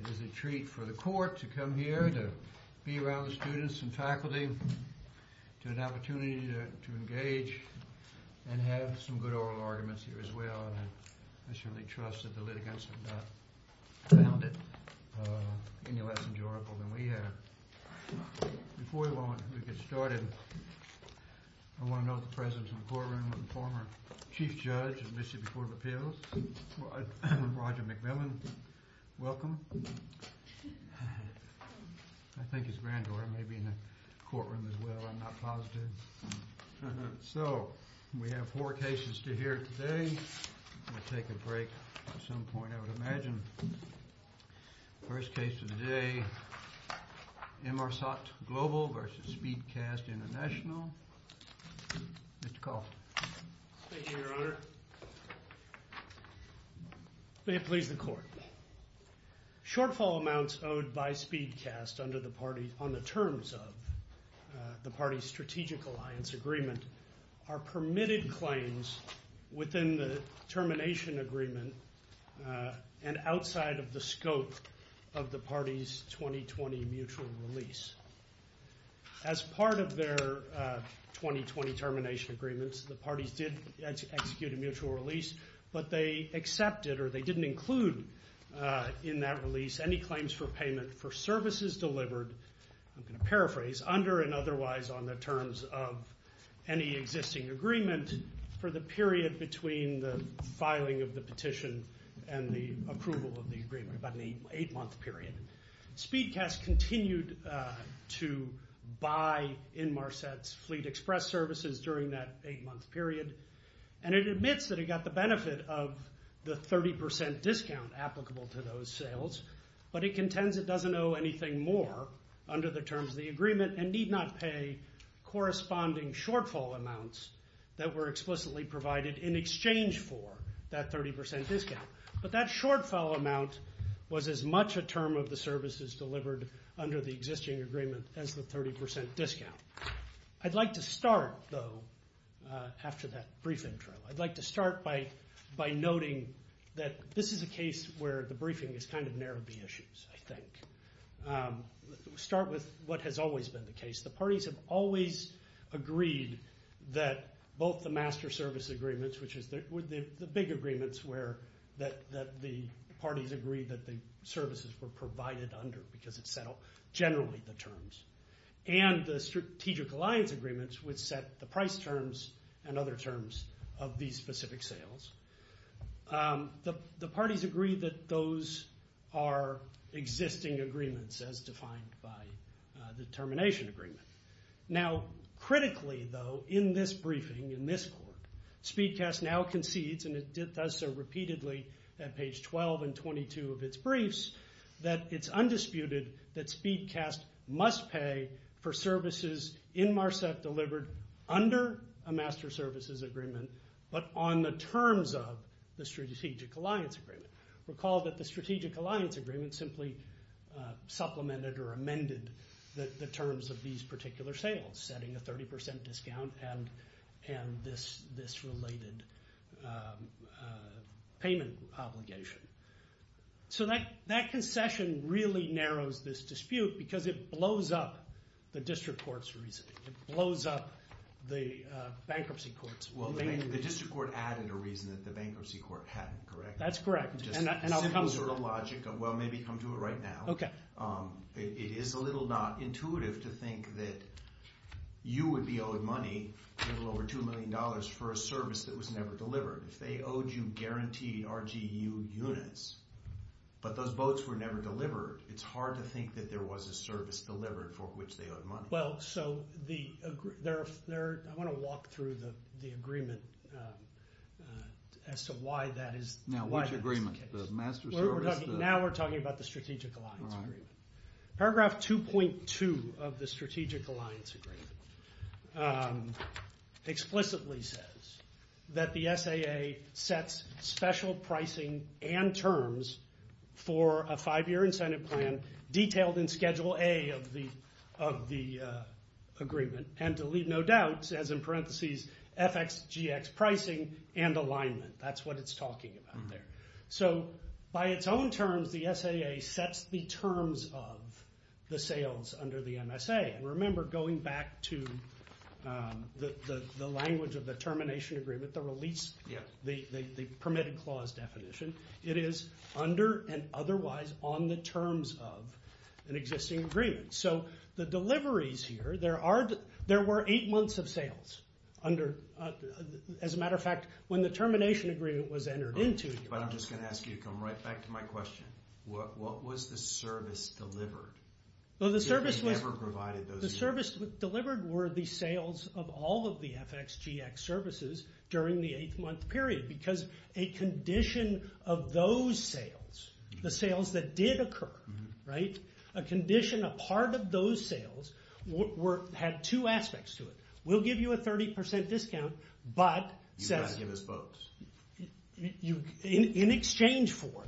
It is a treat for the court to come here, to be around the students and faculty, to have an opportunity to engage and have some good oral arguments here as well. I certainly trust that the litigants have not found it any less enjoyable than we have. Before we get started, I want to note the presence in the courtroom of the former Chief Judge of Mississippi Court of Appeals, Roger McMillan. Welcome. I think his granddaughter may be in the courtroom as well, I'm not positive. So, we have four cases to hear today. We'll take a break at some point, I would imagine. First case of the day, Immarsat Global v. SpeedCast Intl. Mr. Colton. Thank you, Your Honor. May it please the court. Shortfall amounts owed by SpeedCast on the terms of the party's strategic alliance agreement are permitted claims within the termination agreement and outside of the scope of the party's 2020 mutual release. As part of their 2020 termination agreements, the parties did execute a mutual release, but they accepted or they didn't include in that release any claims for payment for services delivered, I'm going to paraphrase, under and otherwise on the terms of any existing agreement for the period between the filing of the petition and the approval of the agreement, about an eight-month period. SpeedCast continued to buy Immarsat's Fleet Express services during that eight-month period, and it admits that it got the benefit of the 30% discount applicable to those sales, but it contends it doesn't owe anything more under the terms of the agreement and need not pay corresponding shortfall amounts that were explicitly provided in exchange for that 30% discount. But that shortfall amount was as much a term of the services delivered under the existing agreement as the 30% discount. I'd like to start, though, after that briefing trail. I'd like to start by noting that this is a case where the briefing has kind of narrowed the issues, I think. Let's start with what has always been the case. The parties have always agreed that both the master service agreements, which were the big agreements that the parties agreed that the services were provided under because it settled generally the terms, and the strategic alliance agreements which set the price terms and other terms of these specific sales. The parties agreed that those are existing agreements as defined by the termination agreement. Now, critically, though, in this briefing, in this court, Speedcast now concedes, and it does so repeatedly at page 12 and 22 of its briefs, that it's undisputed that Speedcast must pay for services in Marsette delivered under a master services agreement, but on the terms of the strategic alliance agreement. Recall that the strategic alliance agreement simply supplemented or amended the terms of these particular sales, setting a 30% discount and this related payment obligation. So that concession really narrows this dispute because it blows up the district court's reasoning. It blows up the bankruptcy court's reasoning. The district court added a reason that the bankruptcy court hadn't, correct? That's correct. And I'll come to it. Well, maybe come to it right now. Okay. It is a little not intuitive to think that you would be owed money, a little over $2 million, for a service that was never delivered. If they owed you guaranteed RGU units, but those boats were never delivered, it's hard to think that there was a service delivered for which they owed money. Well, so I want to walk through the agreement as to why that is the case. Now, which agreement? The master service? Now we're talking about the strategic alliance agreement. Paragraph 2.2 of the strategic alliance agreement explicitly says that the SAA sets special pricing and terms for a five-year incentive plan detailed in Schedule A of the agreement and to leave no doubts, as in parentheses, FXGX pricing and alignment. That's what it's talking about there. So by its own terms, the SAA sets the terms of the sales under the MSA. And remember, going back to the language of the termination agreement, with the release, the permitted clause definition, it is under and otherwise on the terms of an existing agreement. So the deliveries here, there were eight months of sales under, as a matter of fact, when the termination agreement was entered into. But I'm just going to ask you to come right back to my question. What was the service delivered? If they never provided those units. The service delivered were the sales of all of the FXGX services during the eight-month period because a condition of those sales, the sales that did occur, right, a condition, a part of those sales, had two aspects to it. We'll give you a 30% discount, but in exchange for.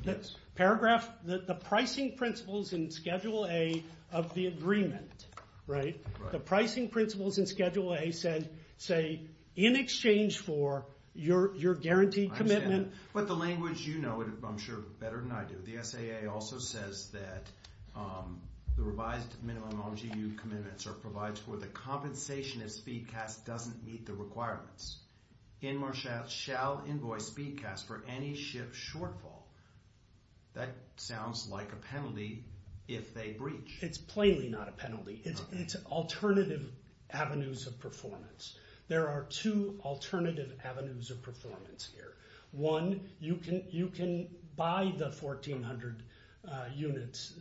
Paragraph, the pricing principles in Schedule A of the agreement, right, the pricing principles in Schedule A said, say, in exchange for your guaranteed commitment. But the language, you know it, I'm sure, better than I do. The SAA also says that the revised minimum LGU commitments are provided for the compensation if SpeedCast doesn't meet the requirements. Inmarsat shall invoice SpeedCast for any ship shortfall. That sounds like a penalty if they breach. It's plainly not a penalty. It's alternative avenues of performance. There are two alternative avenues of performance here. One, you can buy the 1,400 units.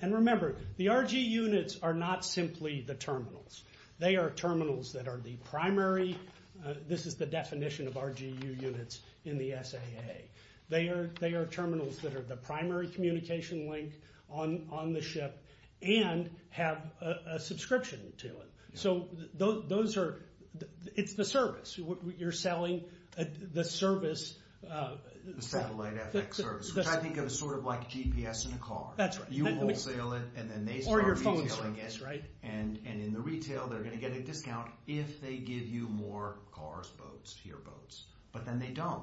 And remember, the RG units are not simply the terminals. They are terminals that are the primary. This is the definition of RGU units in the SAA. They are terminals that are the primary communication link on the ship and have a subscription to it. So those are, it's the service. You're selling the service. The satellite FX service, which I think of as sort of like GPS in a car. That's right. You wholesale it, and then they start reselling it. Or your phone service, right. And in the retail, they're going to get a discount if they give you more cars, boats, fewer boats. But then they don't.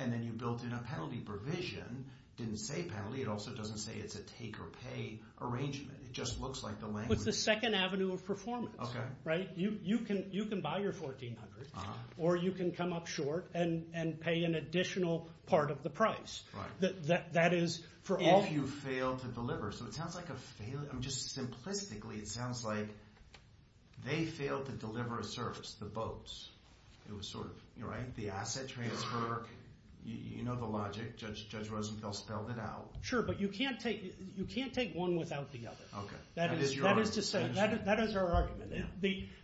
And then you've built in a penalty provision. It didn't say penalty. It also doesn't say it's a take-or-pay arrangement. It just looks like the language. It's the second avenue of performance. Okay. Right? You can buy your 1,400, or you can come up short and pay an additional part of the price. If you fail to deliver. So it sounds like a failure. Just simplistically, it sounds like they failed to deliver a service, the boats. It was sort of, you're right, the asset transfer. You know the logic. Judge Rosenfeld spelled it out. Sure, but you can't take one without the other. Okay. That is your argument. That is our argument.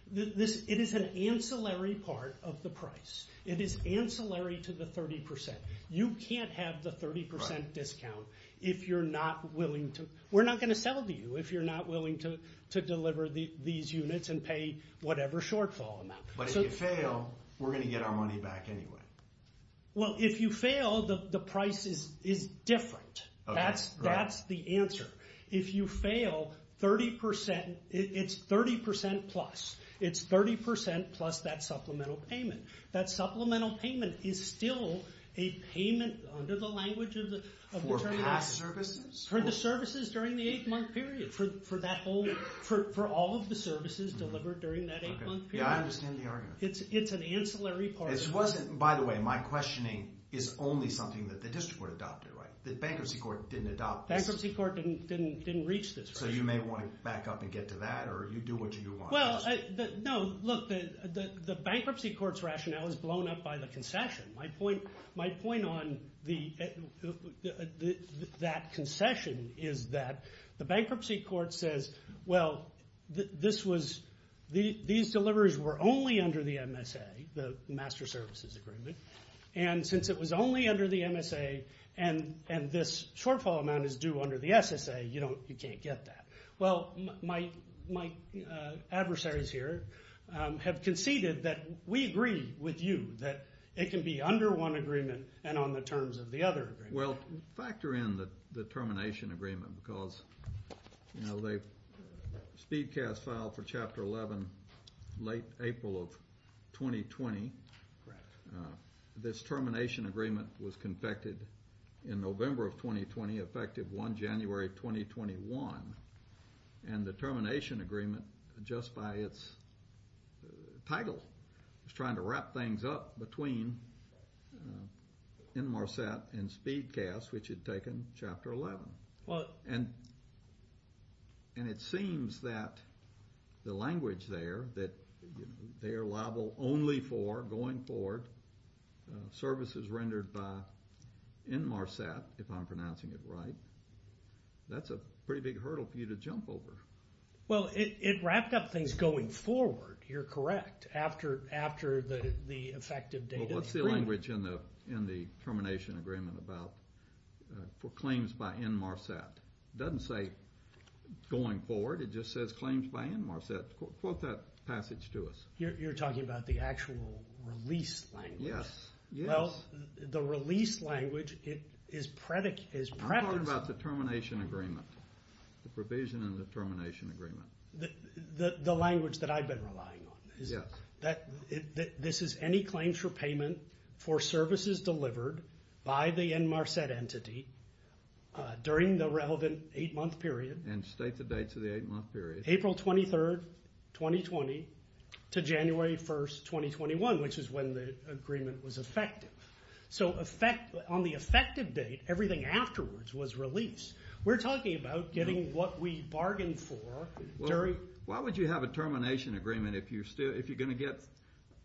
It is an ancillary part of the price. It is ancillary to the 30%. You can't have the 30% discount if you're not willing to. We're not going to sell to you if you're not willing to deliver these units and pay whatever shortfall amount. But if you fail, we're going to get our money back anyway. Well, if you fail, the price is different. That's the answer. If you fail, it's 30% plus. It's 30% plus that supplemental payment. That supplemental payment is still a payment under the language of the Terminator. For past services? For the services during the eight-month period. For all of the services delivered during that eight-month period. Yeah, I understand the argument. It's an ancillary part. By the way, my questioning is only something that the district court adopted, right? The bankruptcy court didn't adopt this. Bankruptcy court didn't reach this. So you may want to back up and get to that, or you do what you want. No, look, the bankruptcy court's rationale is blown up by the concession. My point on that concession is that the bankruptcy court says, well, these deliveries were only under the MSA, the Master Services Agreement, and since it was only under the MSA and this shortfall amount is due under the SSA, you can't get that. Well, my adversaries here have conceded that we agree with you that it can be under one agreement and on the terms of the other agreement. Well, factor in the termination agreement because, you know, SpeedCast filed for Chapter 11 late April of 2020. This termination agreement was confected in November of 2020, effective 1 January 2021, and the termination agreement, just by its title, was trying to wrap things up between Inmarsat and SpeedCast, which had taken Chapter 11. And it seems that the language there, that they are liable only for, going forward, services rendered by Inmarsat, if I'm pronouncing it right, that's a pretty big hurdle for you to jump over. Well, it wrapped up things going forward, you're correct, after the effective date of the agreement. There is language in the termination agreement about claims by Inmarsat. It doesn't say going forward, it just says claims by Inmarsat. Quote that passage to us. You're talking about the actual release language. Yes. Well, the release language is preferenced. I'm talking about the termination agreement, the provision in the termination agreement. The language that I've been relying on. Yes. This is any claims for payment for services delivered by the Inmarsat entity during the relevant eight-month period. And state the dates of the eight-month period. April 23rd, 2020 to January 1st, 2021, which is when the agreement was effective. So on the effective date, everything afterwards was released. We're talking about getting what we bargained for. Why would you have a termination agreement if you're going to get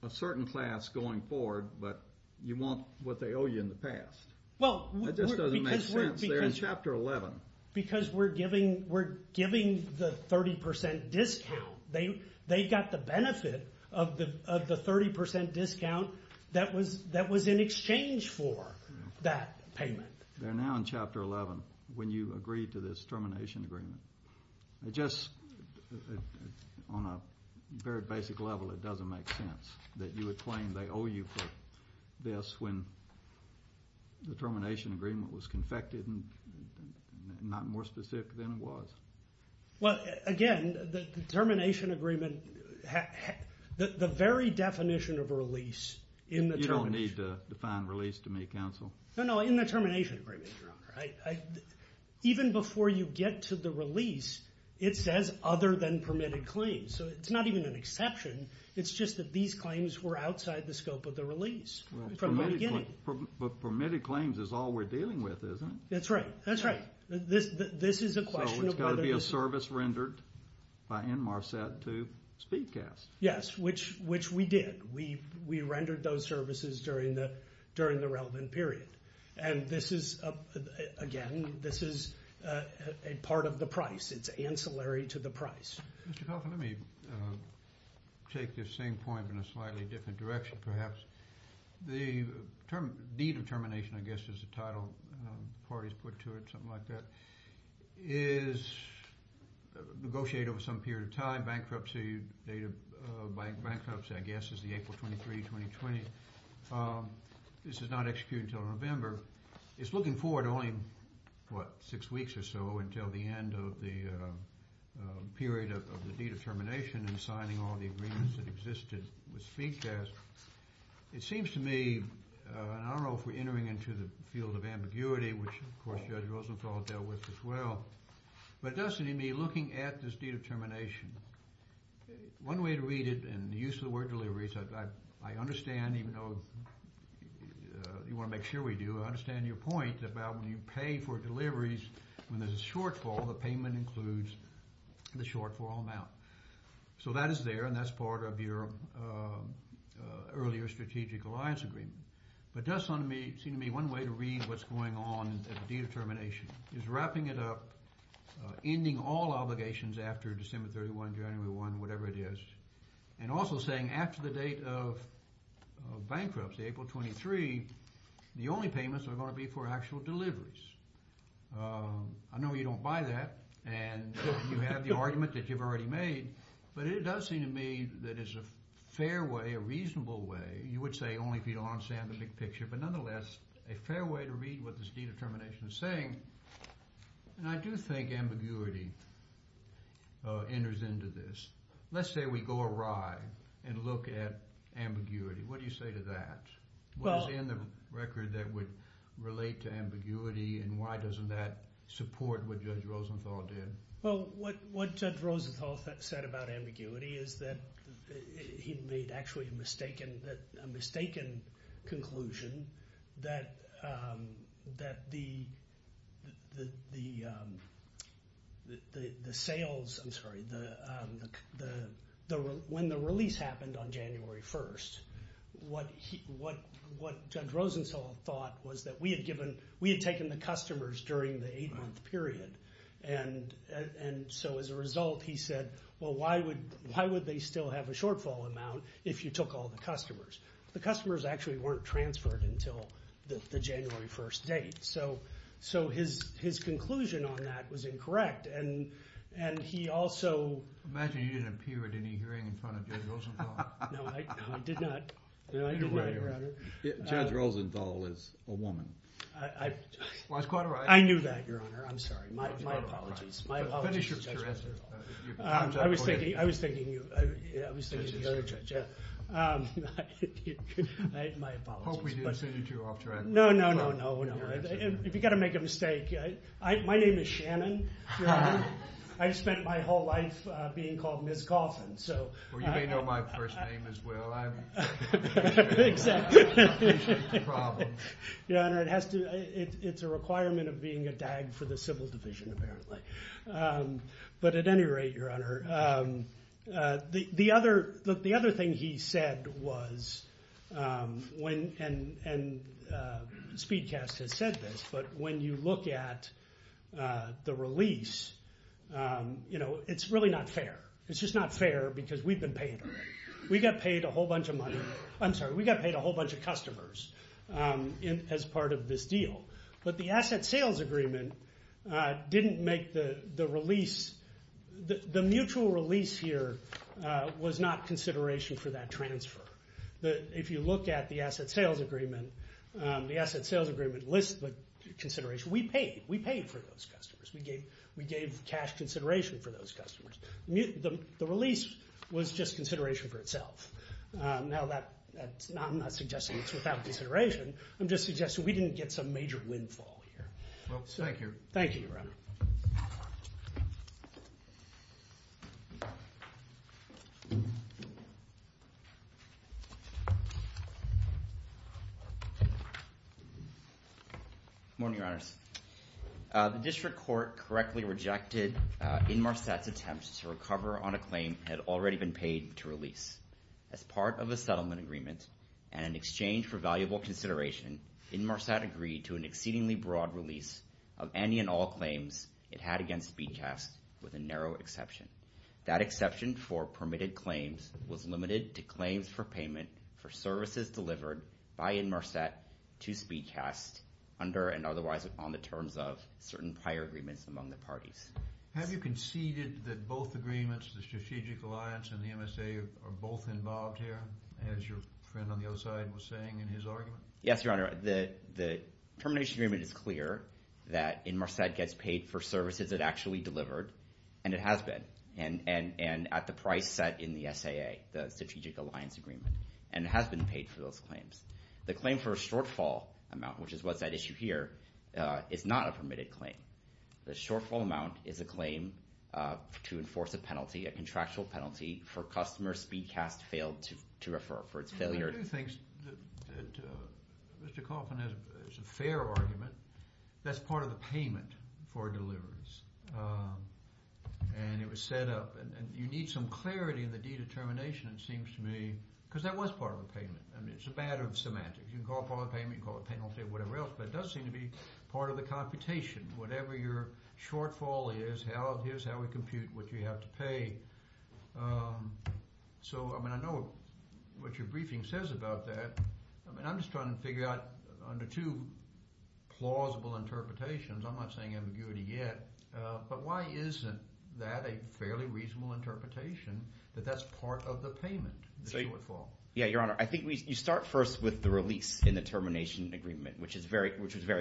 a certain class going forward but you want what they owe you in the past? That just doesn't make sense. They're in Chapter 11. Because we're giving the 30% discount. They've got the benefit of the 30% discount that was in exchange for that payment. They're now in Chapter 11 when you agree to this termination agreement. It just, on a very basic level, it doesn't make sense that you would claim they owe you for this when the termination agreement was confected and not more specific than it was. Well, again, the termination agreement, the very definition of a release in the termination agreement. You don't need to define release to me, counsel. No, no, in the termination agreement, Your Honor. Even before you get to the release, it says other than permitted claims. So it's not even an exception. It's just that these claims were outside the scope of the release from the beginning. But permitted claims is all we're dealing with, isn't it? That's right. This is a question of whether this is. So it's got to be a service rendered by NMARSET to SpeedCast. Yes, which we did. We rendered those services during the relevant period. And this is, again, this is a part of the price. It's ancillary to the price. Mr. Kauffman, let me take this same point but in a slightly different direction perhaps. The need of termination, I guess, is the title parties put to it, something like that, is negotiated over some period of time. Bankruptcy, date of bankruptcy, I guess, is the April 23, 2020. This is not executed until November. It's looking forward to only, what, six weeks or so until the end of the period of the deed of termination and signing all the agreements that existed with SpeedCast. It seems to me, and I don't know if we're entering into the field of ambiguity, which, of course, Judge Rosenthal dealt with as well, but it does seem to me looking at this deed of termination, one way to read it, and the use of the word deliveries, I understand, even though you want to make sure we do, I understand your point about when you pay for deliveries, when there's a shortfall, the payment includes the shortfall amount. So that is there, and that's part of your earlier strategic alliance agreement. But it does seem to me one way to read what's going on at the deed of termination is wrapping it up, ending all obligations after December 31, January 1, whatever it is, and also saying after the date of bankruptcy, April 23, the only payments are going to be for actual deliveries. I know you don't buy that, and you have the argument that you've already made, but it does seem to me that is a fair way, a reasonable way, you would say only if you don't understand the big picture, but nonetheless, a fair way to read what this deed of termination is saying. I do think ambiguity enters into this. Let's say we go awry and look at ambiguity. What do you say to that? What is in the record that would relate to ambiguity, and why doesn't that support what Judge Rosenthal did? Well, what Judge Rosenthal said about ambiguity is that he made actually a mistaken conclusion that when the release happened on January 1, what Judge Rosenthal thought was that we had taken the customers during the eight-month period, and so as a result, he said, well, why would they still have a shortfall amount if you took all the customers? The customers actually weren't transferred until the January 1 date. So his conclusion on that was incorrect, and he also— I imagine you didn't appear at any hearing in front of Judge Rosenthal. No, I did not. Judge Rosenthal is a woman. I knew that, Your Honor. I'm sorry. My apologies. Finish your answer. I was thinking of the other judge. My apologies. I hope we didn't send you too off track. No, no, no, no. If you've got to make a mistake, my name is Shannon, Your Honor. I've spent my whole life being called Ms. Coffin, so— Well, you may know my first name as well. Exactly. I appreciate the problem. Your Honor, it has to—it's a requirement of being a DAG for the civil division, apparently. But at any rate, Your Honor, the other thing he said was— and Speedcast has said this, but when you look at the release, it's really not fair. It's just not fair because we've been paid already. We got paid a whole bunch of money. I'm sorry. We got paid a whole bunch of customers as part of this deal. But the asset sales agreement didn't make the release. The mutual release here was not consideration for that transfer. If you look at the asset sales agreement, the asset sales agreement lists the consideration. We paid. We paid for those customers. We gave cash consideration for those customers. The release was just consideration for itself. Now, I'm not suggesting it's without consideration. I'm just suggesting we didn't get some major windfall here. Thank you. Thank you, Your Honor. Good morning, Your Honors. The district court correctly rejected Inmarsat's attempt to recover on a claim that had already been paid to release. As part of a settlement agreement and in exchange for valuable consideration, Inmarsat agreed to an exceedingly broad release of any and all claims it had against Speedcast with a narrow exception. That exception for permitted claims was limited to claims for payment for services delivered by Inmarsat to Speedcast under and otherwise on the terms of certain prior agreements among the parties. Have you conceded that both agreements, the Strategic Alliance and the MSA, are both involved here, as your friend on the other side was saying in his argument? Yes, Your Honor. The termination agreement is clear that Inmarsat gets paid for services it actually delivered, and it has been, and at the price set in the SAA, the Strategic Alliance Agreement, and it has been paid for those claims. The claim for a shortfall amount, which is what's at issue here, is not a permitted claim. The shortfall amount is a claim to enforce a penalty, a contractual penalty, for customers Speedcast failed to refer for its failure. I do think that Mr. Coffman has a fair argument. That's part of the payment for deliverance, and it was set up. And you need some clarity in the de-determination, it seems to me, because that was part of the payment. I mean, it's a matter of semantics. You can call it a penalty or whatever else, but it does seem to be part of the computation. Whatever your shortfall is, here's how we compute what you have to pay. So, I mean, I know what your briefing says about that. I mean, I'm just trying to figure out under two plausible interpretations. I'm not saying ambiguity yet, but why isn't that a fairly reasonable interpretation that that's part of the payment, the shortfall? Yeah, Your Honor, I think you start first with the release in the termination agreement, which is very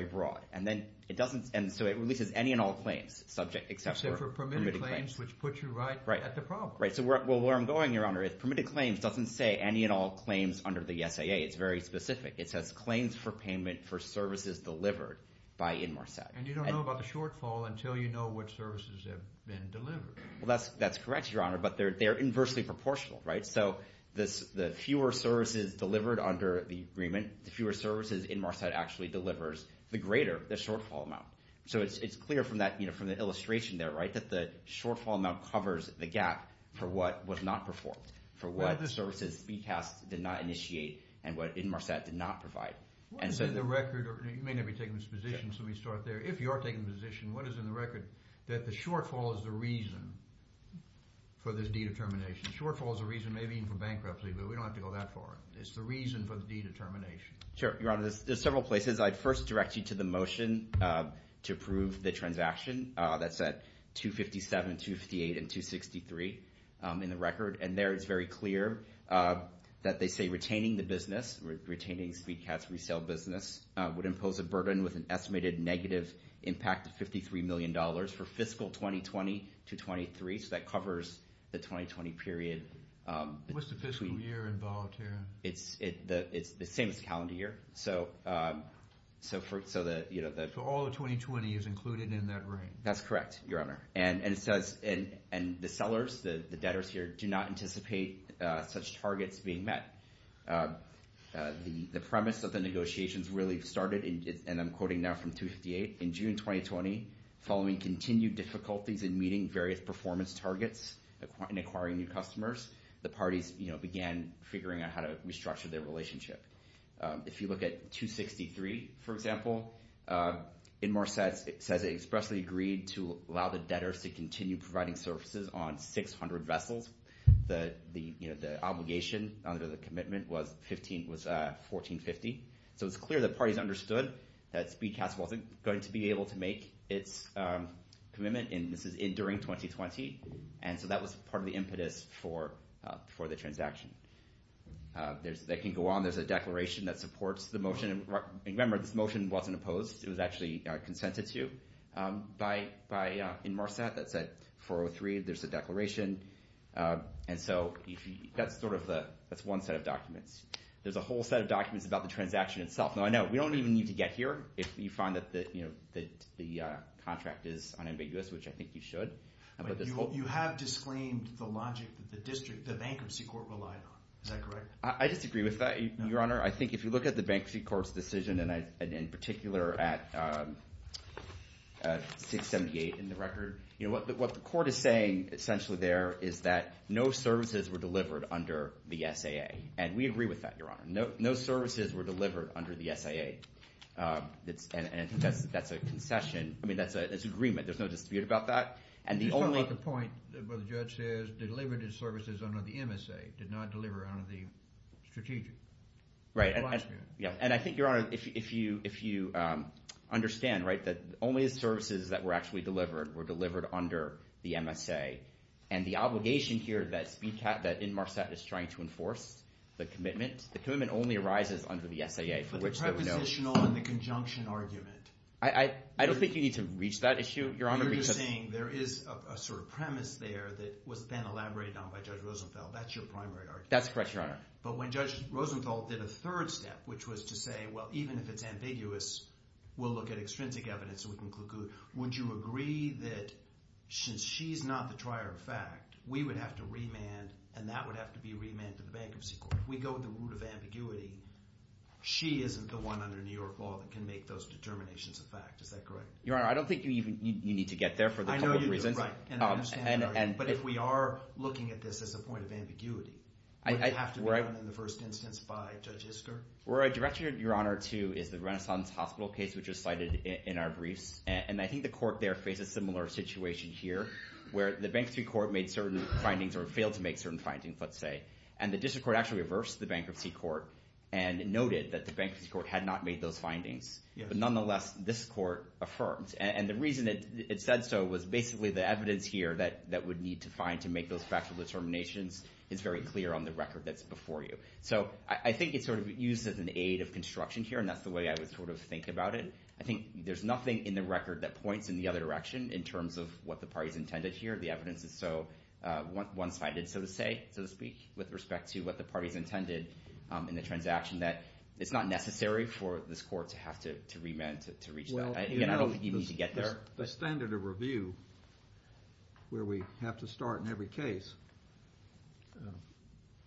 broad. And so it releases any and all claims subject except for permitted claims. Which puts you right at the problem. Right, so where I'm going, Your Honor, is permitted claims doesn't say any and all claims under the SAA. It's very specific. It says claims for payment for services delivered by Inmarsat. And you don't know about the shortfall until you know what services have been delivered. Well, that's correct, Your Honor, but they're inversely proportional, right? So the fewer services delivered under the agreement, the fewer services Inmarsat actually delivers, the greater the shortfall amount. So it's clear from the illustration there, right, that the shortfall amount covers the gap for what was not performed, for what the services BCAS did not initiate and what Inmarsat did not provide. What is in the record? You may not be taking this position, so let me start there. If you are taking the position, what is in the record? That the shortfall is the reason for this dedetermination. The shortfall is the reason maybe even for bankruptcy, but we don't have to go that far. It's the reason for the dedetermination. Sure, Your Honor. There's several places. I'd first direct you to the motion to approve the transaction that's at 257, 258, and 263 in the record. And there it's very clear that they say retaining the business, retaining SpeedCats resale business would impose a burden with an estimated negative impact of $53 million for fiscal 2020 to 2023. So that covers the 2020 period. What's the fiscal year involved here? It's the same as the calendar year. So all of 2020 is included in that range? That's correct, Your Honor. And the sellers, the debtors here, do not anticipate such targets being met. The premise of the negotiations really started, and I'm quoting now from 258, in June 2020, following continued difficulties in meeting various performance targets and acquiring new customers, the parties began figuring out how to restructure their relationship. If you look at 263, for example, in more sense, it says it expressly agreed to allow the debtors to continue providing services on 600 vessels. The obligation under the commitment was 1450. So it's clear the parties understood that SpeedCats wasn't going to be able to make its commitment, and this is during 2020. And so that was part of the impetus for the transaction. That can go on. There's a declaration that supports the motion. And remember, this motion wasn't opposed. It was actually consented to by Inmarsat. That's at 403. There's a declaration. And so that's one set of documents. There's a whole set of documents about the transaction itself. Now, I know we don't even need to get here if you find that the contract is unambiguous, which I think you should. You have disclaimed the logic that the district, the Bankruptcy Court relied on. Is that correct? I disagree with that, Your Honor. I think if you look at the Bankruptcy Court's decision, and in particular at 678 in the record, what the court is saying essentially there is that no services were delivered under the SAA. And we agree with that, Your Honor. No services were delivered under the SAA. And I think that's a concession. I mean, that's an agreement. There's no dispute about that. Just talk about the point where the judge says they delivered the services under the MSA, did not deliver under the strategic. Right. And I think, Your Honor, if you understand, right, that only the services that were actually delivered were delivered under the MSA. And the obligation here that Inmarsat is trying to enforce, the commitment, the commitment only arises under the SAA. But the prepositional and the conjunction argument. I don't think you need to reach that issue, Your Honor. You're just saying there is a sort of premise there that was then elaborated on by Judge Rosenfeld. That's your primary argument. That's correct, Your Honor. But when Judge Rosenfeld did a third step, which was to say, well, even if it's ambiguous, we'll look at extrinsic evidence so we can conclude. Would you agree that since she's not the trier of fact, we would have to remand, and that would have to be remanded to the Bankruptcy Court? If we go with the route of ambiguity, she isn't the one under New York law that can make those determinations a fact. Is that correct? Your Honor, I don't think you need to get there for a couple of reasons. I know you do, right. And I understand that. But if we are looking at this as a point of ambiguity, would it have to be done in the first instance by Judge Isker? Well, actually, Your Honor, too, is the Renaissance Hospital case, which was cited in our briefs. And I think the court there faced a similar situation here where the Bankruptcy Court made certain findings or failed to make certain findings, let's say. And the District Court actually reversed the Bankruptcy Court and noted that the Bankruptcy Court had not made those findings. But nonetheless, this court affirmed. And the reason it said so was basically the evidence here that would need to find to make those factual determinations is very clear on the record that's before you. So I think it's sort of used as an aid of construction here, and that's the way I would sort of think about it. I think there's nothing in the record that points in the other direction in terms of what the parties intended here. The evidence is so one-sided, so to speak, with respect to what the parties intended in the transaction, that it's not necessary for this court to have to remand to reach that. I don't think you need to get there. The standard of review where we have to start in every case,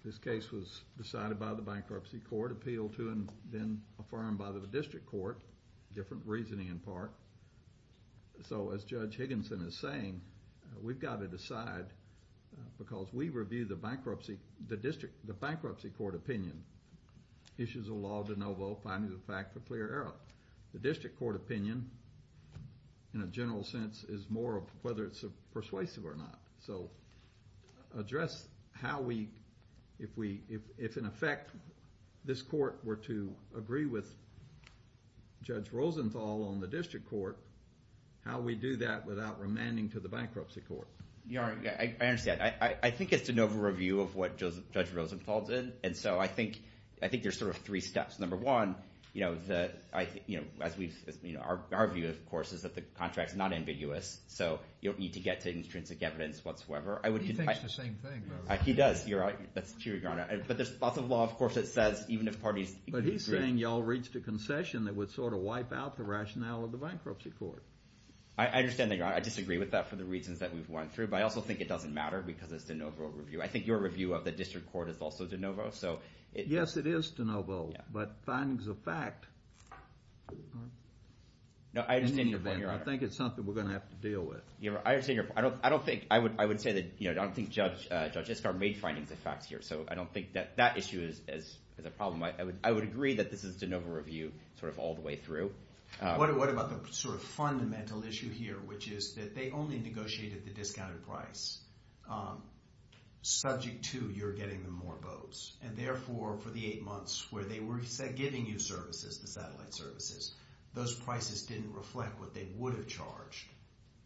this case was decided by the Bankruptcy Court, appealed to and then affirmed by the District Court, different reasoning in part. So as Judge Higginson is saying, we've got to decide because we review the Bankruptcy Court opinion, issues of law de novo, finding the fact a clear error. The District Court opinion, in a general sense, is more of whether it's persuasive or not. So address how we, if in effect this court were to agree with Judge Rosenthal on the District Court, how we do that without remanding to the Bankruptcy Court. Yeah, I understand. I think it's de novo review of what Judge Rosenthal did, and so I think there's sort of three steps. Number one, our view, of course, is that the contract's not ambiguous, so you don't need to get to intrinsic evidence whatsoever. He thinks the same thing, though. He does, Your Honor. But there's lots of law, of course, that says even if parties agree. But he's saying y'all reached a concession that would sort of wipe out the rationale of the Bankruptcy Court. I understand that, Your Honor. I disagree with that for the reasons that we've went through, but I also think it doesn't matter because it's de novo review. I think your review of the District Court is also de novo. Yes, it is de novo, but findings of fact. No, I understand your point, Your Honor. I think it's something we're going to have to deal with. I understand your point. I would say that I don't think Judge Iskar made findings of fact here, so I don't think that that issue is a problem. I would agree that this is de novo review sort of all the way through. What about the sort of fundamental issue here, which is that they only negotiated the discounted price subject to your getting them more boats, and therefore for the eight months where they were giving you services, the satellite services, those prices didn't reflect what they would have charged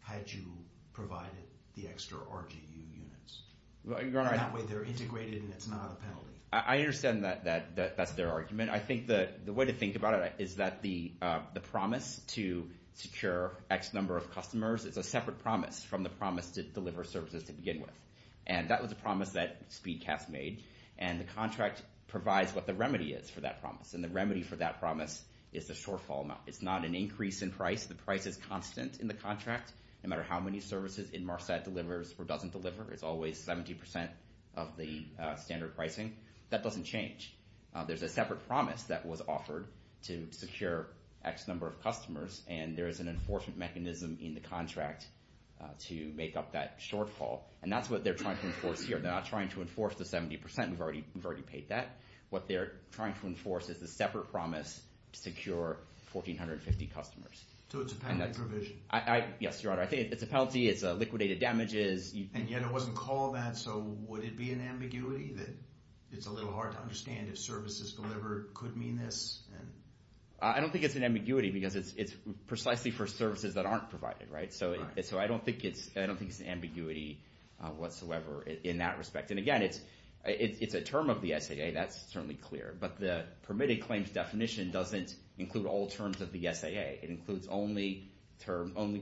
had you provided the extra RGU units. That way they're integrated and it's not a penalty. I understand that that's their argument. I think the way to think about it is that the promise to secure X number of customers is a separate promise from the promise to deliver services to begin with, and that was a promise that SpeedCast made, and the contract provides what the remedy is for that promise, and the remedy for that promise is the shortfall amount. It's not an increase in price. The price is constant in the contract. No matter how many services Inmarsat delivers or doesn't deliver, it's always 70 percent of the standard pricing. That doesn't change. There's a separate promise that was offered to secure X number of customers, and there is an enforcement mechanism in the contract to make up that shortfall, and that's what they're trying to enforce here. They're not trying to enforce the 70 percent. We've already paid that. What they're trying to enforce is the separate promise to secure 1,450 customers. So it's a penalty provision. Yes, Your Honor. I think it's a penalty. It's liquidated damages. And yet it wasn't called that, so would it be an ambiguity that it's a little hard to understand if services delivered could mean this? I don't think it's an ambiguity because it's precisely for services that aren't provided, right? So I don't think it's an ambiguity whatsoever in that respect. And, again, it's a term of the SAA. That's certainly clear. But the permitted claims definition doesn't include all terms of the SAA. It includes only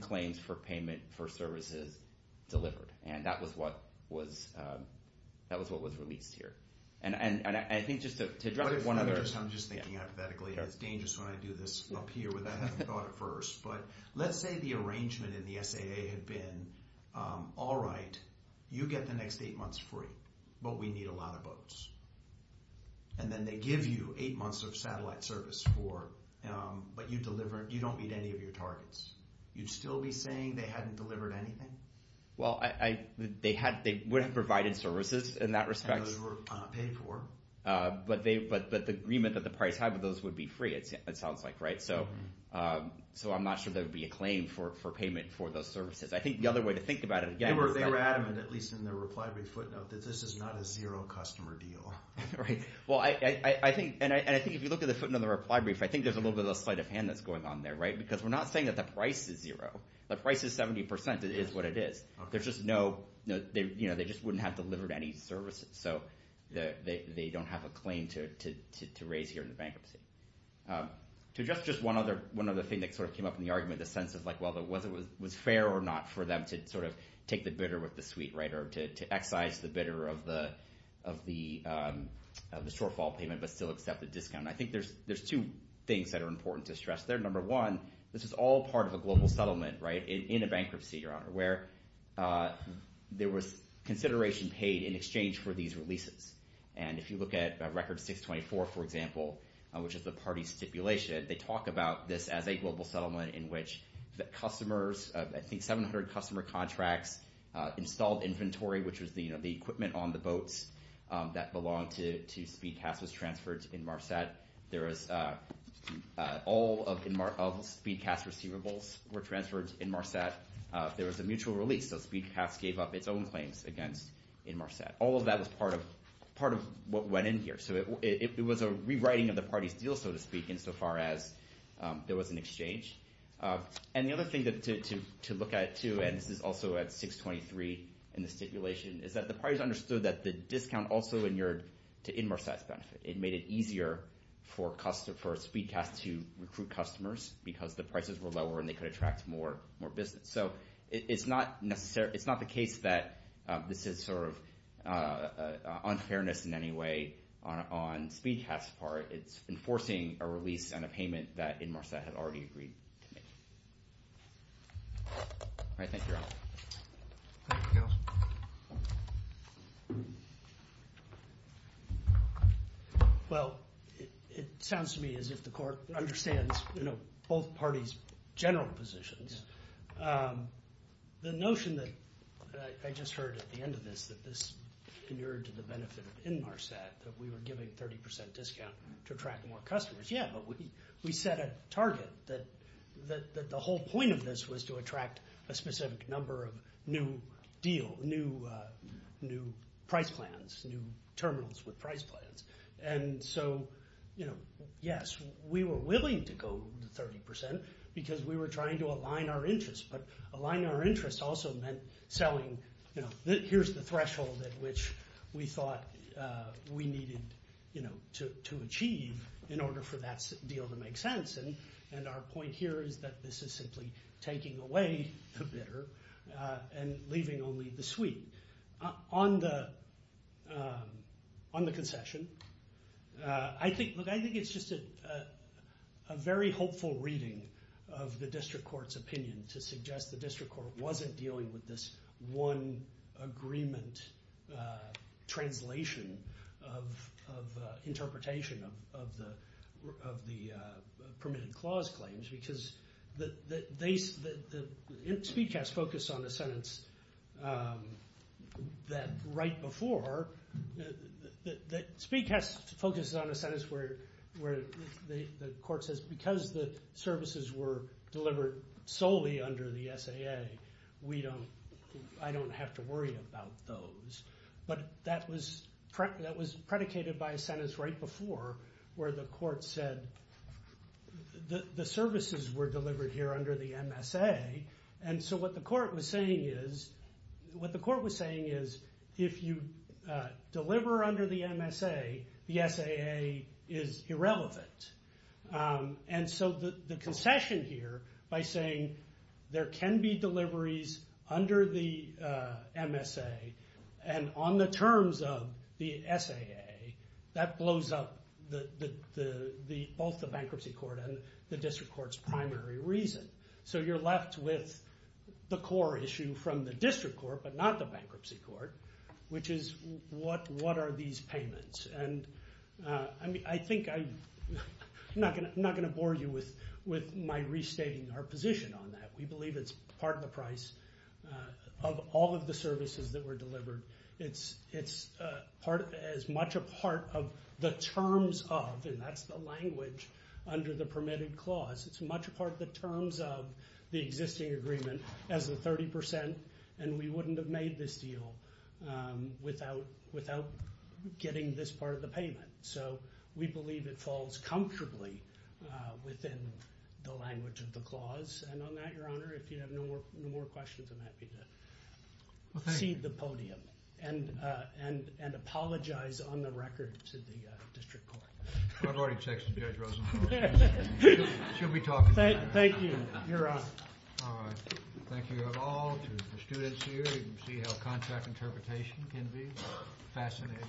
claims for payment for services delivered, and that was what was released here. And I think just to address one other – I'm just thinking hypothetically. It's dangerous when I do this up here without having thought it first. But let's say the arrangement in the SAA had been, all right, you get the next eight months free, but we need a lot of boats. And then they give you eight months of satellite service, but you don't meet any of your targets. You'd still be saying they hadn't delivered anything? Well, they would have provided services in that respect. And those were paid for. But the agreement that the parties had with those would be free, it sounds like, right? So I'm not sure there would be a claim for payment for those services. I think the other way to think about it, again, is that – They were adamant, at least in their reply brief footnote, that this is not a zero customer deal. Right. Well, I think – and I think if you look at the footnote in the reply brief, I think there's a little bit of a sleight of hand that's going on there, right? Because we're not saying that the price is zero. The price is 70%. It is what it is. There's just no – they just wouldn't have delivered any services. So they don't have a claim to raise here in the bankruptcy. To just one other thing that sort of came up in the argument, the sense of whether it was fair or not for them to sort of take the bitter with the sweet, right? Or to excise the bitter of the shortfall payment but still accept the discount. I think there's two things that are important to stress there. Number one, this is all part of a global settlement, right, in a bankruptcy, Your Honor, where there was consideration paid in exchange for these releases. And if you look at Record 624, for example, which is the party stipulation, they talk about this as a global settlement in which the customers – I think 700 customer contracts installed inventory, which was the equipment on the boats that belonged to SpeedCast was transferred to Inmarsat. There was – all of SpeedCast receivables were transferred to Inmarsat. There was a mutual release, so SpeedCast gave up its own claims against Inmarsat. All of that was part of what went in here. So it was a rewriting of the party's deal, so to speak, insofar as there was an exchange. And the other thing to look at too – and this is also at 623 in the stipulation – is that the parties understood that the discount also inured to Inmarsat's benefit. It made it easier for SpeedCast to recruit customers because the prices were lower and they could attract more business. So it's not necessary – it's not the case that this is sort of unfairness in any way on SpeedCast's part. It's enforcing a release and a payment that Inmarsat had already agreed to make. Thank you. Well, it sounds to me as if the court understands both parties' general positions. The notion that – I just heard at the end of this that this inured to the benefit of Inmarsat, that we were giving a 30% discount to attract more customers. Yeah, but we set a target that the whole point of this was to attract a specific number of new deal – new price plans, new terminals with price plans. And so, yes, we were willing to go to 30% because we were trying to align our interests. But aligning our interests also meant selling – we thought we needed to achieve in order for that deal to make sense. And our point here is that this is simply taking away the bidder and leaving only the suite. On the concession, I think it's just a very hopeful reading of the district court's opinion to suggest the district court wasn't dealing with this one agreement translation of interpretation of the permitted clause claims because the speedcast focused on a sentence that right before – the court says because the services were delivered solely under the SAA, we don't – I don't have to worry about those. But that was predicated by a sentence right before where the court said the services were delivered here under the MSA. And so what the court was saying is if you deliver under the MSA, the SAA is irrelevant. And so the concession here by saying there can be deliveries under the MSA and on the terms of the SAA, that blows up both the bankruptcy court and the district court's primary reason. So you're left with the core issue from the district court but not the bankruptcy court, which is what are these payments. And I think – I'm not going to bore you with my restating our position on that. We believe it's part of the price of all of the services that were delivered. It's part – as much a part of the terms of – and that's the language under the permitted clause. It's much a part of the terms of the existing agreement as the 30 percent, and we wouldn't have made this deal without getting this part of the payment. So we believe it falls comfortably within the language of the clause. And on that, Your Honor, if you have no more questions, I'm happy to cede the podium and apologize on the record to the district court. I've already texted Judge Rosenberg. She'll be talking to him. Thank you, Your Honor. All right. Thank you all to the students here. You can see how contract interpretation can be fascinating.